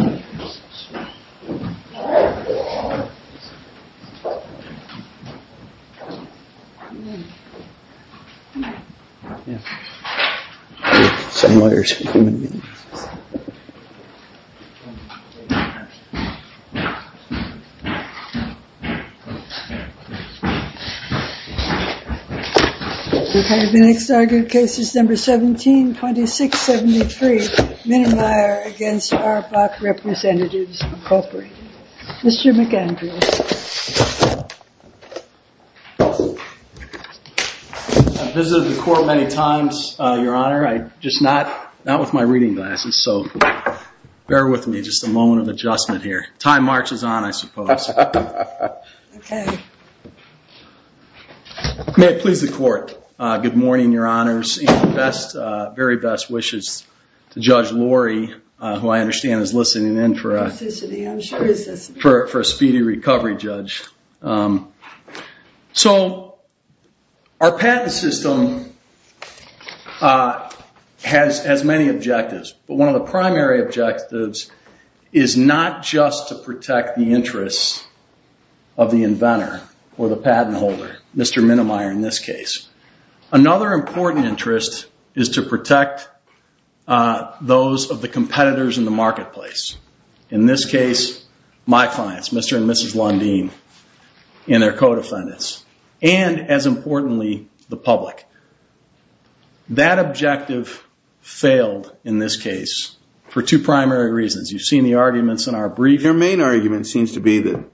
years is in my can't end and and and up so bear with me just a moment of adjustment here time marches on i suppose okay please the court uh... good morning your honors best uh... very best wishes judge lori uh... who i understand is listening in for a for a for a speedy recovery judge so our patent system uh... has as many objectives but one of the primary objectives is not just to protect the interests of the inventor or the patent holder mister minnemeyer in this case another important interest is to protect uh... those of the competitors in the marketplace in this case my clients mister and missus lundeen and their co-defendants and as importantly the public that objective failed in this case for two primary reasons you've seen the arguments in our brief your main argument seems to be that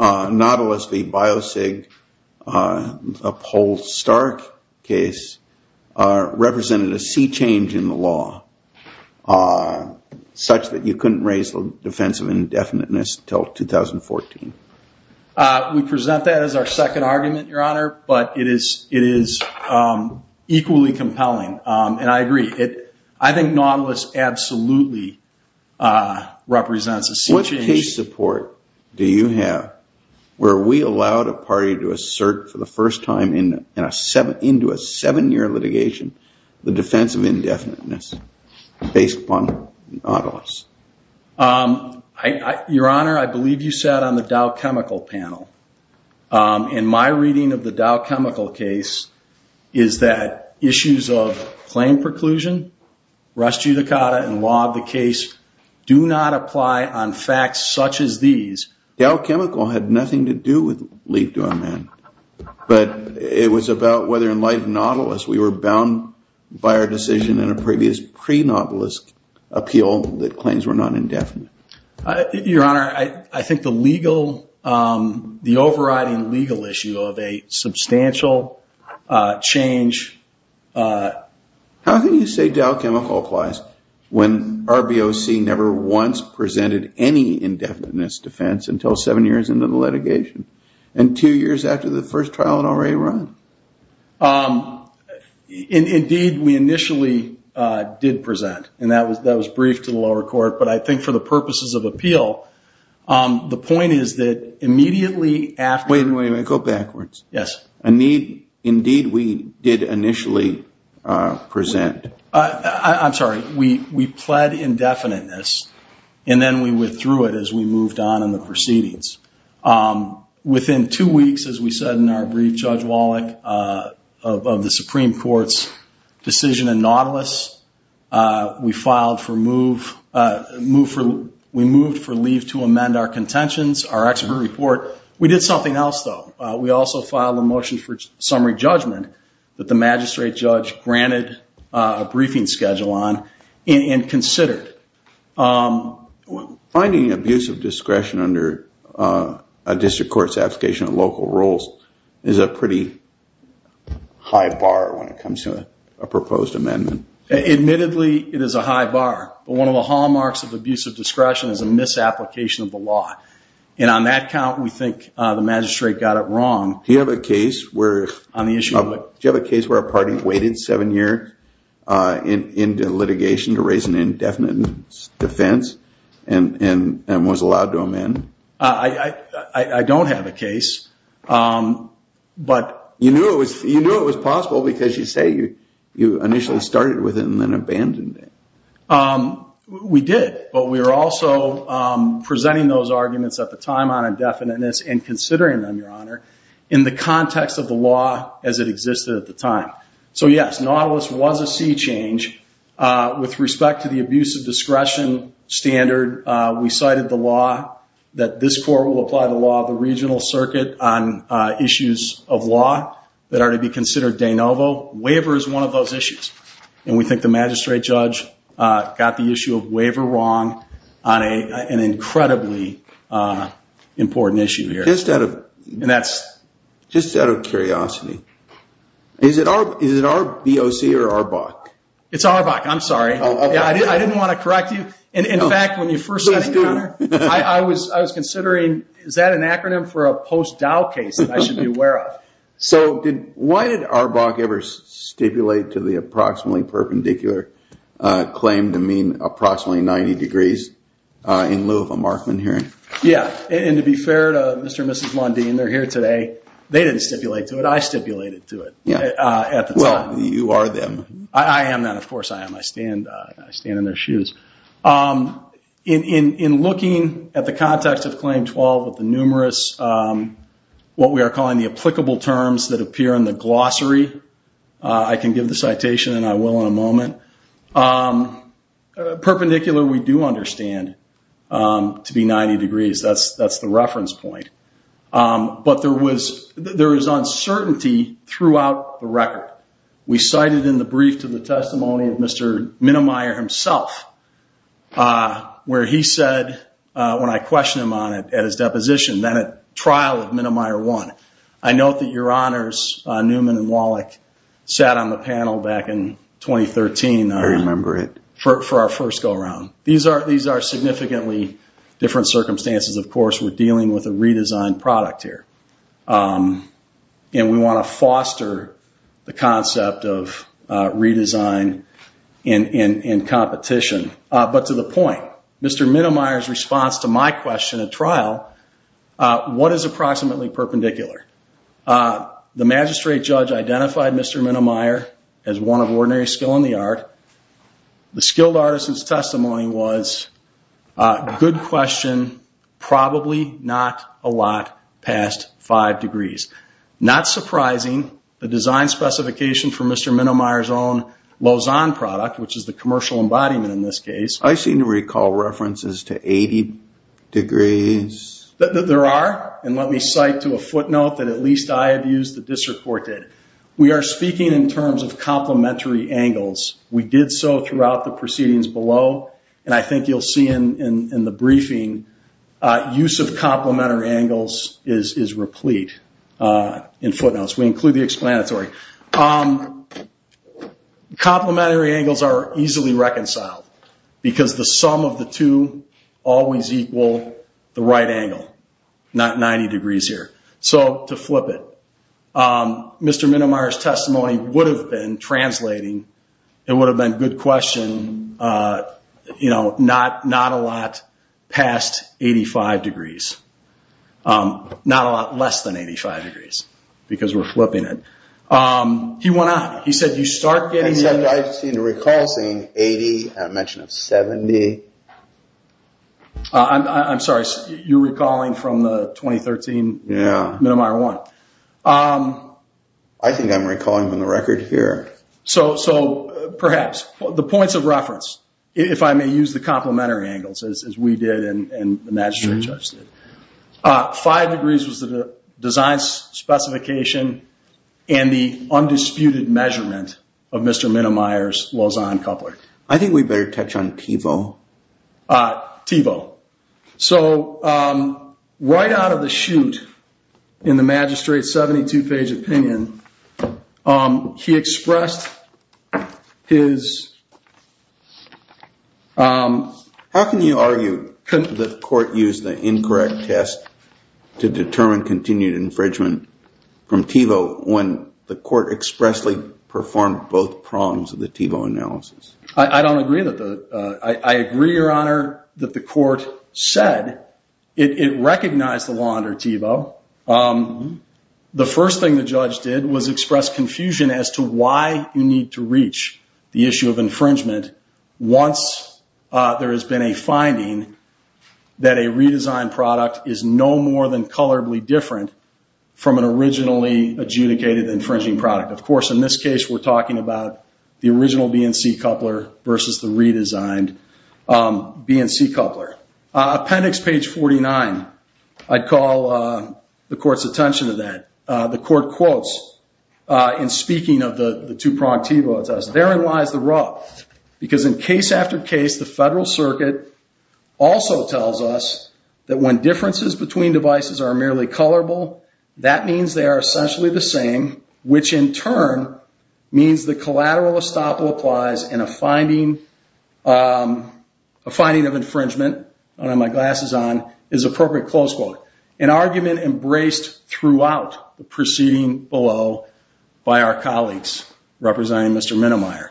uh... novelist the biosig uh... uphold stark case uh... represented a sea change in the law uh... such that you couldn't raise the defense of indefiniteness until two thousand fourteen uh... we present that as our second argument your honor but it is it is uh... equally compelling uh... and i agree it i think novelist absolutely uh... represents a sea change what case support do you have where we allowed a party to assert for the first time into a seven year litigation the defense of indefiniteness based upon novelist uh... uh... your honor i believe you said on the dow chemical panel uh... in my reading of the dow chemical case is that issues of claim preclusion rescue the car and log the case do not apply on facts such as these dow chemical had nothing to do with lead to a man but it was about whether in light of novelist we were bound by our decision in a previous pre-novelist appeal that claims were not indefinite uh... your honor i think the legal uh... the overriding legal issue of a substantial uh... change how can you say dow chemical applies when RBOC never once presented any indefiniteness defense until seven years into the litigation and two years after the first trial had already run uh... indeed we initially uh... did present and that was that was brief to the lower court but i think for the purposes of appeal uh... the point is that immediately after wait a minute go backwards indeed we did initially uh... present uh... i'm sorry we we pled indefiniteness and then we withdrew it as we moved on in the proceedings uh... within two weeks as we said in our brief judge wallach uh... of the supreme court's decision in novelist uh... we filed for a move uh... move from we moved for leave to amend our contentions our expert report we did something else though we also filed a motion for summary judgment that the magistrate judge granted uh... briefing schedule on and considered uh... finding abuse of discretion under a district court's application of local rules is a pretty high bar when it comes to a a proposed amendment admittedly it is a high bar one of the hallmarks of abuse of discretion is a misapplication of the law and on that count we think uh... the magistrate got it wrong do you have a case where on the issue of do you have a case where a party waited seven years uh... in into litigation to raise an indefinite defense and and and was allowed to amend uh... i i i don't have a case uh... you knew it was possible because you say you initially started with it and then abandoned it uh... we did but we're also uh... presenting those arguments at the time on indefiniteness and considering them your honor in the context of the law as it existed at the time so yes novelist was a sea change uh... with respect to the abuse of discretion standard uh... we cited the law that this court will apply the law of the regional circuit on issues of law that are to be considered de novo waiver is one of those issues and we think the magistrate judge uh... got the issue of waiver wrong on a an incredibly important issue here just out of curiosity is it our BOC or ARBOC? it's ARBOC i'm sorry i didn't want to correct you in fact when you first started your honor i was i was considering is that an acronym for a post-dow case that i should be aware of so did why did ARBOC ever stipulate to the approximately perpendicular uh... claim to mean approximately ninety degrees uh... in lieu of a markman hearing? yeah and to be fair to Mr. and Mrs. Mondeen they're here today they didn't stipulate to it i stipulated to it uh... at the time well you are them i am then of course i am i stand in their shoes uh... in in in looking at the context of claim twelve of the numerous uh... what we are calling the applicable terms that appear in the glossary uh... i can give the citation and i will in a moment uh... perpendicular we do understand uh... to be ninety degrees that's that's the reference point uh... but there was there is uncertainty throughout the record we cited in the brief to the testimony of Mr. Minnemeyer himself uh... where he said uh... when i question him on it at his deposition then at trial of Minnemeyer 1 i note that your honors uh... Newman and Wallach sat on the panel back in twenty thirteen i remember it for for our first go-round these are these are significantly different circumstances of course we're dealing with a redesigned product here uh... and we want to foster the concept of uh... redesign in in in competition uh... but to the point Mr. Minnemeyer's response to my question at trial uh... what is approximately perpendicular uh... the magistrate judge identified Mr. Minnemeyer as one of ordinary skill in the art the skilled artisans testimony was uh... good question probably not a lot past five degrees not surprising the design specification for Mr. Minnemeyer's own Lausanne product which is the commercial embodiment in this case i seem to recall references to eighty degrees that there are and let me cite to a footnote that at least i have used the disreported we are speaking in terms of complementary angles we did so throughout the proceedings below and i think you'll see in in in the briefing uh... use of complementary angles is is replete uh... in footnotes we include the explanatory uh... complementary angles are easily reconciled because the sum of the two always equal the right angle not ninety degrees here so to flip it uh... Mr. Minnemeyer's testimony would have been translating it would have been good question uh... you know not not a lot past eighty five degrees uh... not a lot less than eighty five degrees because we're flipping it uh... he went on he said you start getting i seem to recall seeing eighty and a mention of seventy uh... i'm sorry you're recalling from the twenty thirteen Minnemeyer one uh... i think i'm recalling from the record here so so perhaps the points of reference if i may use the complementary angles as we did and and the magistrate judge uh... five degrees was the design specification and the undisputed measurement of Mr. Minnemeyer's Lausanne coupler i think we better touch on TiVo uh... TiVo so uh... right out of the chute in the magistrate's seventy two page opinion uh... he expressed his uh... how can you argue that the court used the incorrect test to determine continued infringement from TiVo when the court expressly performed both prongs of the TiVo analysis i don't agree that uh... i agree your honor that the court said it recognized the law under TiVo uh... the first thing the judge did was express confusion as to why you need to reach the issue of infringement once uh... there has been a finding that a redesigned product is no more than colorably different from an originally adjudicated infringing product of course in this case we're talking about the original BNC coupler versus the redesigned uh... BNC coupler uh... appendix page forty nine i'd call uh... the court's attention to that uh... the court quotes uh... in speaking of the two pronged TiVo test therein lies the rub because in case after case the federal circuit also tells us that when differences between devices are merely colorable that means they are essentially the same which in turn means the collateral estoppel applies and a finding uh... a finding of infringement i don't have my glasses on is appropriate close quote an argument embraced throughout the proceeding below by our colleagues representing Mr. Minnemeyer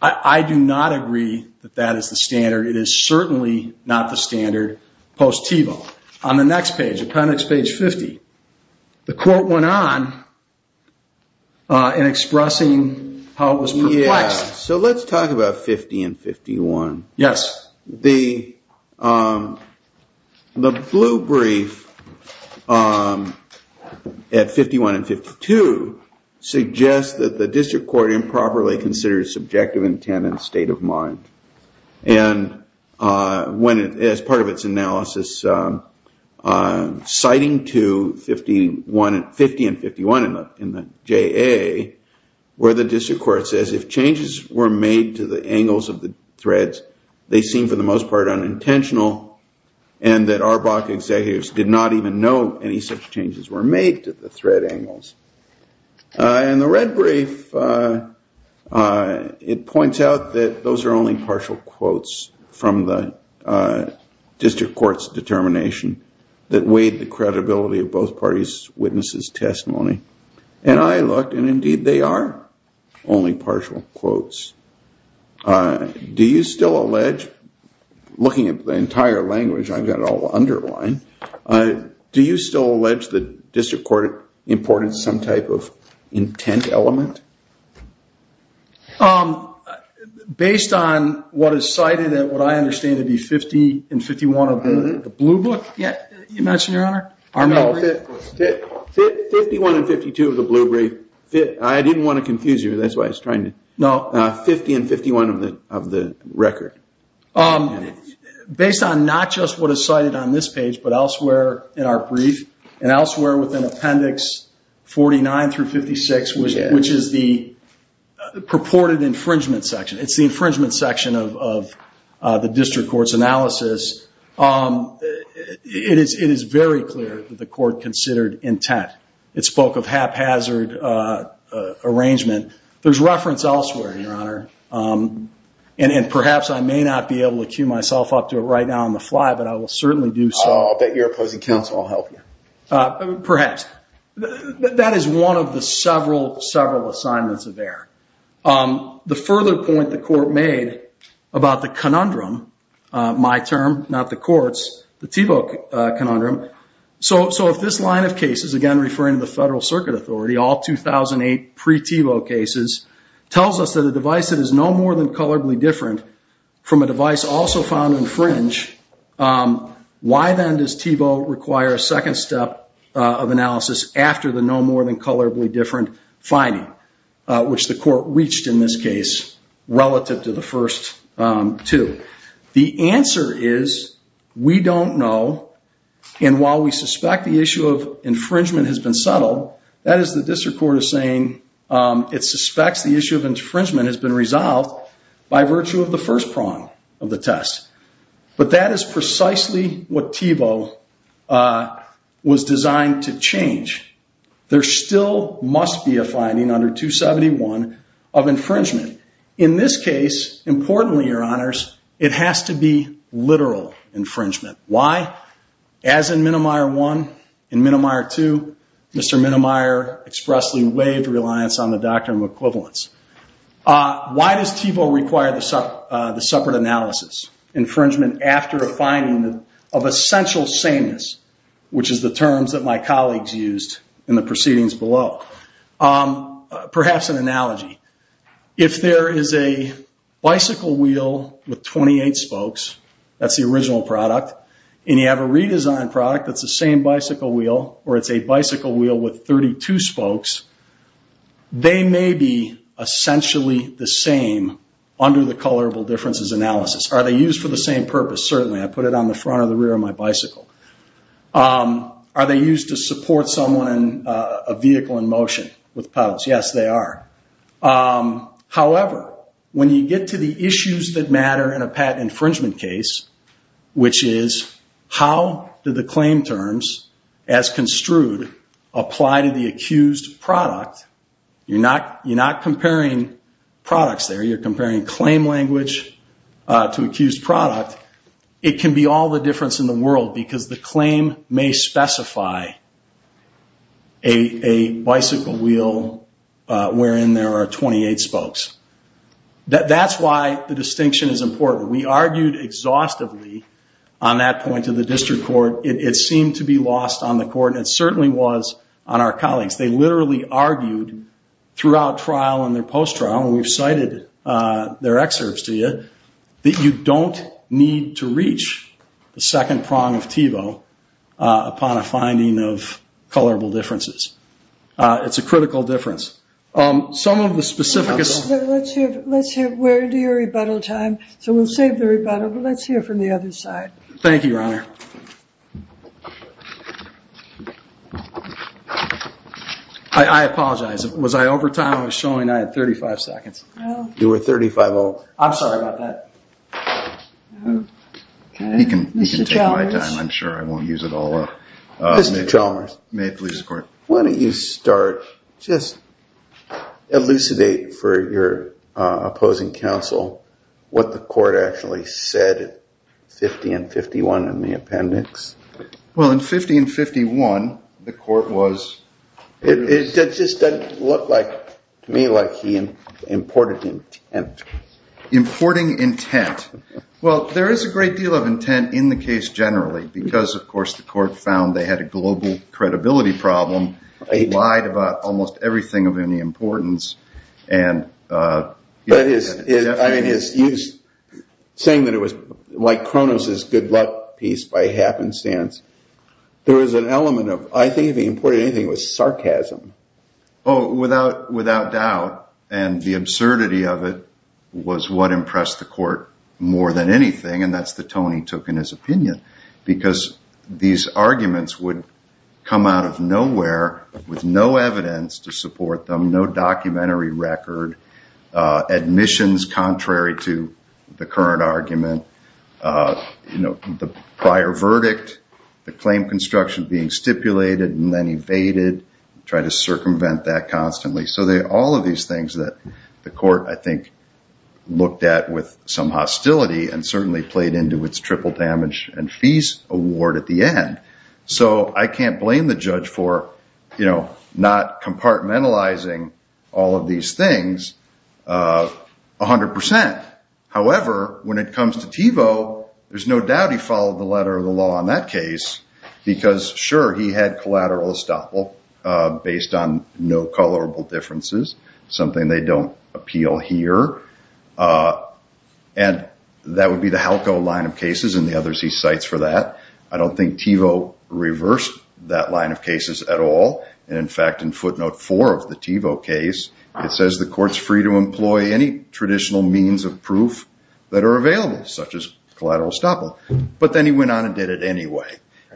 i do not agree that that is the standard it is certainly not the standard post TiVo on the next page appendix page fifty the court went on uh... in expressing how it was perplexed so let's talk about fifty and fifty one yes the uh... the blue brief uh... at fifty one and fifty two suggests that the district court improperly considers subjective intent and state of mind and uh... when it is part of its analysis uh... uh... citing to fifty one fifty and fifty one in the J.A. where the district court says if changes were made to the angles of the threads they seem for the most part unintentional and that our block executives did not even know any such changes were made to the thread angles uh... in the red brief uh... it points out that those are only partial quotes from the district court's determination that weighed the credibility of both parties witnesses testimony and i looked and indeed they are only partial quotes uh... do you still allege looking at the entire language I've got all underlined do you still allege the district court imported some type of intent element uh... based on what is cited and what I understand to be fifty and fifty one of the blue book imagine your honor fifty one and fifty two of the blue brief I didn't want to confuse you that's why I was trying to fifty and fifty one of the record uh... based on not just what is cited on this page but elsewhere in our brief and elsewhere within appendix forty nine through fifty six which is the purported infringement section it's the infringement section of of uh... the district court's analysis uh... it is it is very clear that the court considered intent it spoke of haphazard uh... uh... arrangement there's reference elsewhere your honor uh... and perhaps I may not be able to queue myself up to it right now on the fly but I will certainly do so. I'll bet your opposing counsel will help you uh... perhaps that is one of the several several assignments of error uh... the further point the court made about the conundrum uh... my term not the court's the Tebow conundrum so if this line of cases again referring to the federal circuit authority all two thousand eight pre-Tebow cases tells us that a device that is no more than colorably different from a device also found to infringe uh... why then does Tebow require a second step uh... of analysis after the no more than colorably different uh... which the court reached in this case relative to the first uh... two the answer is we don't know and while we suspect the issue of infringement has been settled that is the district court is saying uh... it suspects the issue of infringement has been resolved by virtue of the first prong of the test but that is precisely what Tebow uh... was designed to change there still must be a finding under two seventy one of infringement in this case importantly your honors it has to be literal infringement why as in Minimeyer one in Minimeyer two Mr. Minimeyer expressly waived reliance on the doctrine of equivalence uh... why does Tebow require the separate analysis infringement after a finding of essential sameness which is the terms that my colleagues used in the proceedings below uh... perhaps an analogy if there is a bicycle wheel with twenty eight spokes that's the original product and you have a redesigned product that's the same bicycle wheel or it's a bicycle wheel with thirty two spokes they may be essentially the same under the colorable differences analysis are they used for the same purpose certainly I put it on the front or the rear of my bicycle uh... are they used to support someone in uh... a vehicle in motion with PELS yes they are uh... however when you get to the issues that matter in a patent infringement case which is how do the claim terms as construed apply to the accused product you're not you're not comparing products there you're comparing claim language uh... to accused product it can be all the difference in the world because the claim may specify a a bicycle wheel uh... wherein there are twenty eight spokes that that's why the distinction is important we argued exhaustively on that point to the district court it it seemed to be lost on the court it certainly was on our colleagues they literally argued throughout trial in their post trial we've cited uh... their excerpts to you that you don't need to reach the second prong of TIVO uh... upon a finding of colorable differences uh... it's a critical difference uh... some of the specifics let's hear let's hear where do your rebuttal time so we'll save the rebuttal but let's hear from the other side thank you your honor I apologize was I over time I was showing I had thirty five seconds you were thirty five oh I'm sorry about that he can take my time I'm sure I won't use it all up Mr. Chalmers may it please the court why don't you start elucidate for your uh... opposing counsel what the court actually said fifty and fifty one in the appendix well in fifty and fifty one the court was it just doesn't look like to me like he imported intent importing intent well there is a great deal of intent in the case generally because of course the court found they had a global credibility problem they lied about almost everything of any importance and uh... I mean it's saying that it was like Cronus' good luck piece by happenstance there is an element of I think if he imported anything it was sarcasm oh without without doubt and the absurdity of it was what impressed the court more than anything and that's the tone he took in his opinion because these arguments would come out of nowhere with no evidence to support them no documentary record uh... admissions contrary to the current argument uh... you know the prior verdict the claim construction being stipulated and then evaded try to circumvent that constantly so they all of these things that the court I think looked at with some hostility and certainly played into its triple damage and fees award at the end so I can't blame the judge for not compartmentalizing all of these things uh... a hundred percent however when it comes to Tevo there's no doubt he followed the letter of the law on that case because sure he had collateral estoppel uh... based on no colorable differences something they don't appeal here uh... that would be the Halco line of cases and the others he cites for that I don't think Tevo reversed that line of cases at all in fact in footnote four of the Tevo case it says the court's free to employ any traditional means of proof that are available such as collateral estoppel but then he went on and did it anyway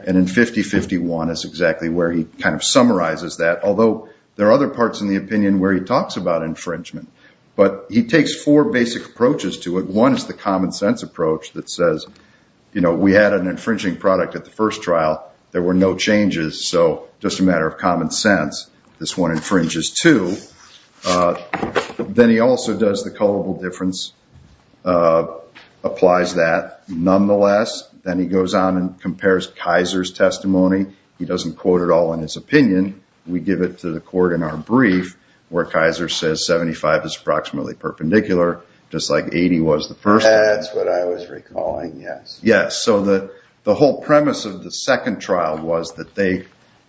and in 50-51 is exactly where he kind of summarizes that although there are other parts in the opinion where he talks about infringement but he takes four basic approaches to it one is the common sense approach that says you know we had an infringing product at the first trial there were no changes so just a matter of common sense this one infringes too uh... then he also does the colorable difference uh... applies that nonetheless then he goes on and compares Kaiser's testimony he doesn't quote it all in his opinion we give it to the court in our brief where Kaiser says 75 is approximately perpendicular just like 80 was the first one. That's what I was recalling, yes. Yes so the whole premise of the second trial was that they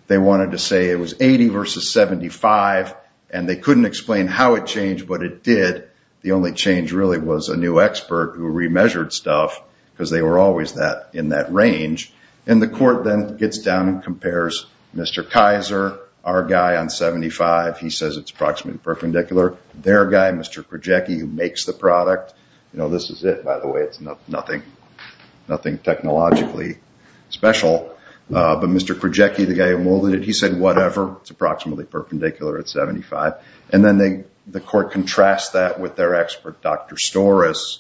they wanted to say it was 80 versus 75 and they couldn't explain how it changed but it did the only change really was a new expert who remeasured stuff because they were always that in that range and the court then gets down and compares Mr. Kaiser our guy on 75 he says it's approximately perpendicular their guy Mr. Krajewski who makes the product you know this is it by the way it's nothing nothing technologically special uh... but Mr. Krajewski the guy who molded it he said whatever it's approximately perpendicular at 75 and then they the court contrasts that with their expert Dr. Storis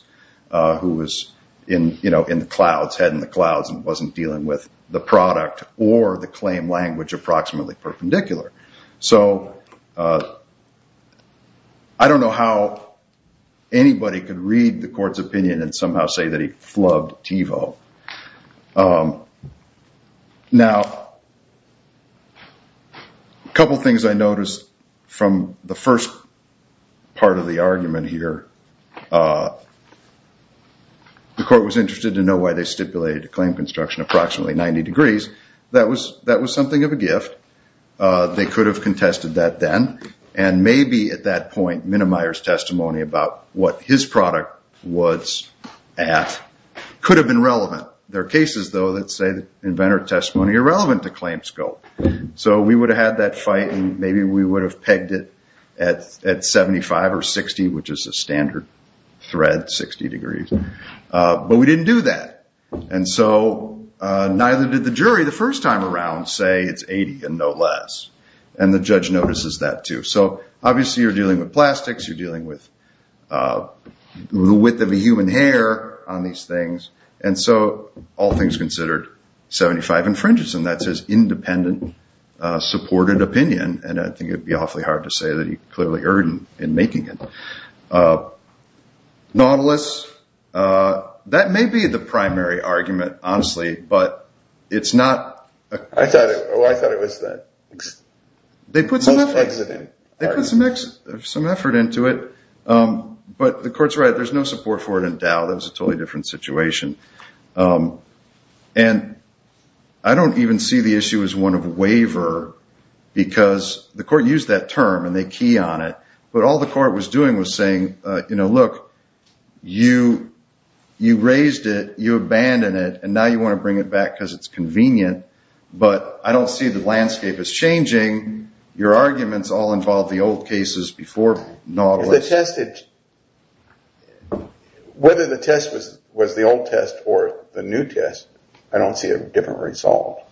uh... who was in you know in the clouds, head in the clouds and wasn't dealing with the product or the claim language approximately perpendicular so I don't know how anybody could read the court's opinion and somehow say that he flubbed TiVo uh... now couple things I noticed from the first part of the argument here uh... the court was interested to know why they stipulated a claim construction approximately 90 degrees that was that was something of a gift uh... they could have contested that then and maybe at that point Minimeyer's testimony about what his product was at could have been relevant there are cases though that say inventor testimony irrelevant to claim scope so we would have had that fight and maybe we would have pegged it at 75 or 60 which is a standard thread 60 degrees uh... but we didn't do that and so uh... neither did the jury the first time around say it's 80 and no less and the judge notices that too so obviously you're dealing with plastics you're dealing with uh... the width of a human hair on these things and so all things considered 75 infringes and that's his independent uh... supported opinion and I think it would be awfully hard to say that he clearly earned it in making it nautilus uh... that may be the primary argument honestly but it's not I thought it was that they put some effort into it they put some effort into it uh... but the court's right there's no support for it in Dow that was a totally different situation I don't even see the issue as one of a waiver because the court used that term and they key on it but all the court was doing was saying uh... you know look you you raised it you abandon it and now you want to bring it back because it's but I don't see the landscape is changing your arguments all involve the old cases before nautilus whether the test was was the old test or the new test I don't see a different result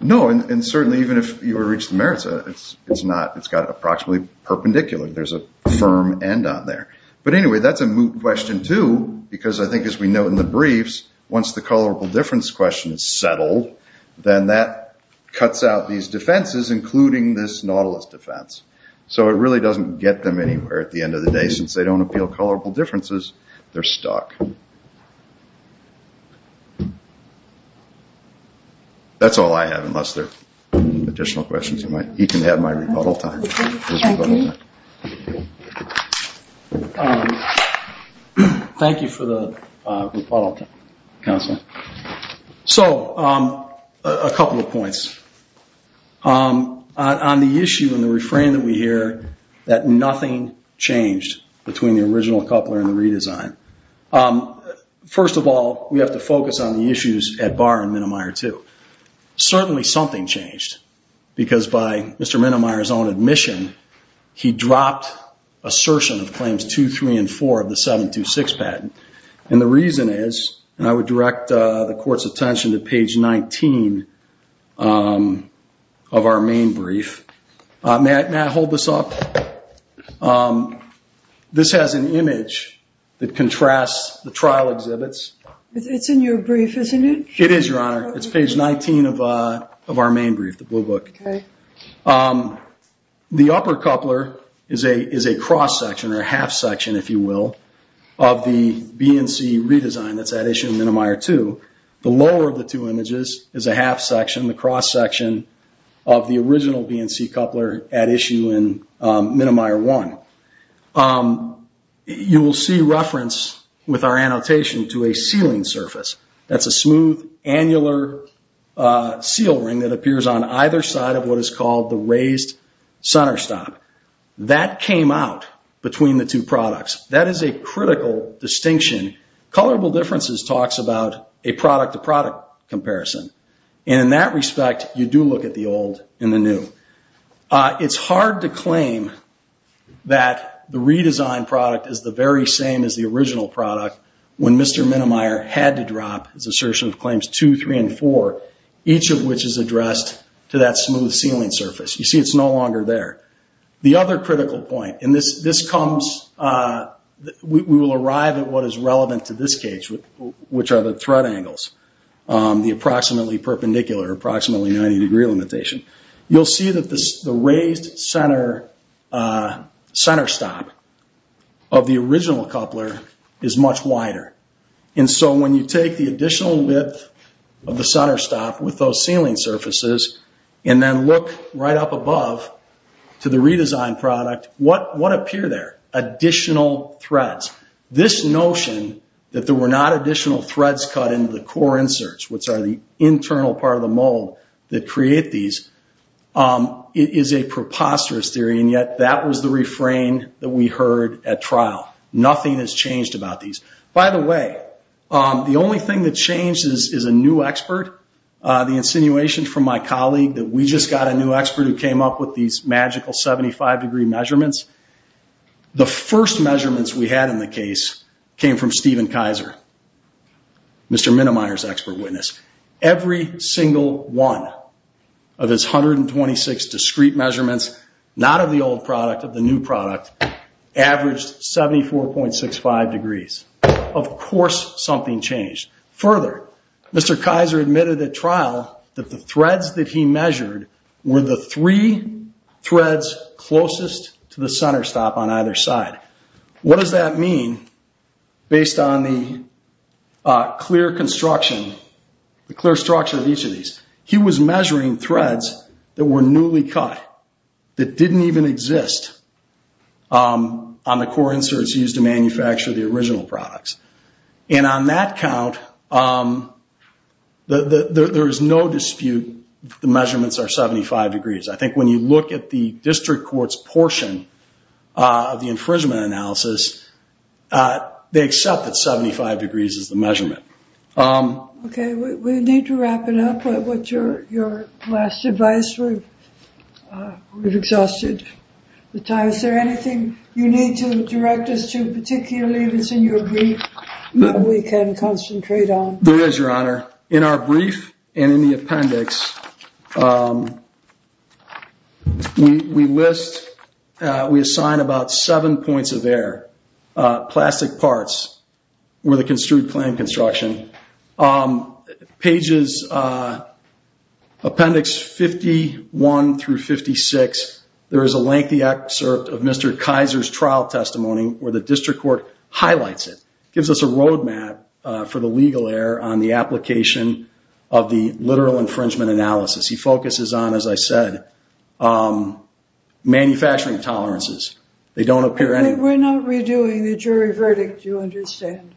no and certainly even if you were to reach the merits of it it's not it's got approximately perpendicular there's a firm end on there but anyway that's a moot question too because I think as we know in the briefs once the color difference question is settled then that cuts out these defenses including this nautilus defense so it really doesn't get them anywhere at the end of the day since they don't appeal colorable differences they're stuck that's all I have unless there are additional questions you might need to have my rebuttal time thank you for the uh... rebuttal time counsel so uh... a couple of points uh... on the issue in the refrain that we hear that nothing changed between the original coupler and the redesign uh... first of all we have to focus on the issues at Barr and Minameyer too certainly something changed because by Mr. Minameyer's own admission he dropped assertion of claims two three and four of the seven two six patent and the reason is and I would direct uh... the court's attention to page nineteen uh... of our main brief uh... may I hold this up uh... this has an image that contrasts the trial exhibits it's in your brief isn't it? It is your honor it's page nineteen of uh... of our main brief the blue book uh... the upper coupler is a cross section or half section if you will of the BNC redesign that's at issue in Minameyer 2 the lower of the two images is a half section the cross section of the original BNC coupler at issue in uh... Minameyer 1 uh... you will see reference with our annotation to a sealing surface that's a smooth annular uh... seal ring that appears on either side of what is called the raised center stop that came out between the two products that is a critical distinction colorable differences talks about a product to product comparison in that respect you do look at the old and the new uh... it's hard to claim that the redesigned product is the very same as the original product when Mr. Minameyer had to drop his assertion of claims 2, 3, and 4 each of which is addressed to that smooth sealing surface you see it's no longer there the other critical point and this comes uh... we will arrive at what is relevant to this case which are the thread angles uh... the approximately perpendicular approximately ninety degree limitation you'll see that the raised center uh... center stop of the original coupler is much wider and so when you take the additional width of the center stop with those sealing surfaces and then look right up above to the redesigned product what would appear there additional threads this notion that there were not additional threads cut into the core inserts which are the internal part of the mold that create these uh... it is a preposterous theory and yet that was the refrain that we heard at trial nothing has changed about these by the way uh... the only thing that changes is a new expert uh... the insinuation from my colleague that we just got a new expert who came up with these magical seventy five degree measurements the first measurements we had in the case came from steven kaiser mister minimizer's expert witness every single one of his hundred and twenty six discrete measurements not of the old product of the new product averaged seventy four point six five degrees of course something changed mister kaiser admitted at trial that the threads that he measured were the three threads closest to the center stop on either side what does that mean based on the uh... clear construction the clear structure of each of these he was measuring threads that were newly cut that didn't even exist uh... on the core inserts used to manufacture the original products and on that count uh... there is no dispute the measurements are seventy five degrees i think when you look at the district court's portion uh... the infringement analysis uh... they accept that seventy five degrees is the measurement uh... okay we need to wrap it up with your last advice we've exhausted the time, is there anything you need to direct us to particularly if it's in your brief that we can concentrate on there is your honor in our brief and in the appendix uh... we list uh... we assign about seven points of error uh... plastic parts with a construed plan construction uh... pages uh... appendix fifty one through fifty six there is a lengthy excerpt of mister kaiser's trial testimony where the district court highlights it gives us a road map uh... for the legal error on the application of the literal infringement analysis he focuses on as i said uh... manufacturing tolerances they don't appear any... we're not redoing the jury verdict you understand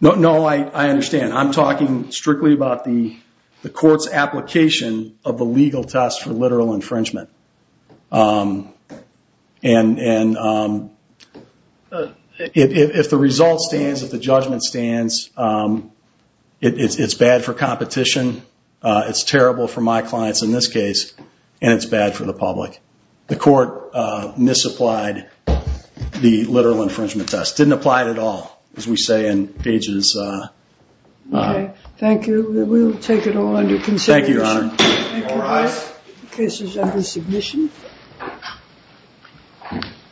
no no i i understand i'm talking strictly about the the court's application of the legal test for literal infringement uh... and and uh... if the result stands if the judgment stands uh... it's it's bad for competition uh... it's terrible for my clients in this case and it's bad for the public the court uh... misapplied the literal infringement test didn't apply at all as we say in pages uh... thank you we will take it all into consideration thank you your honor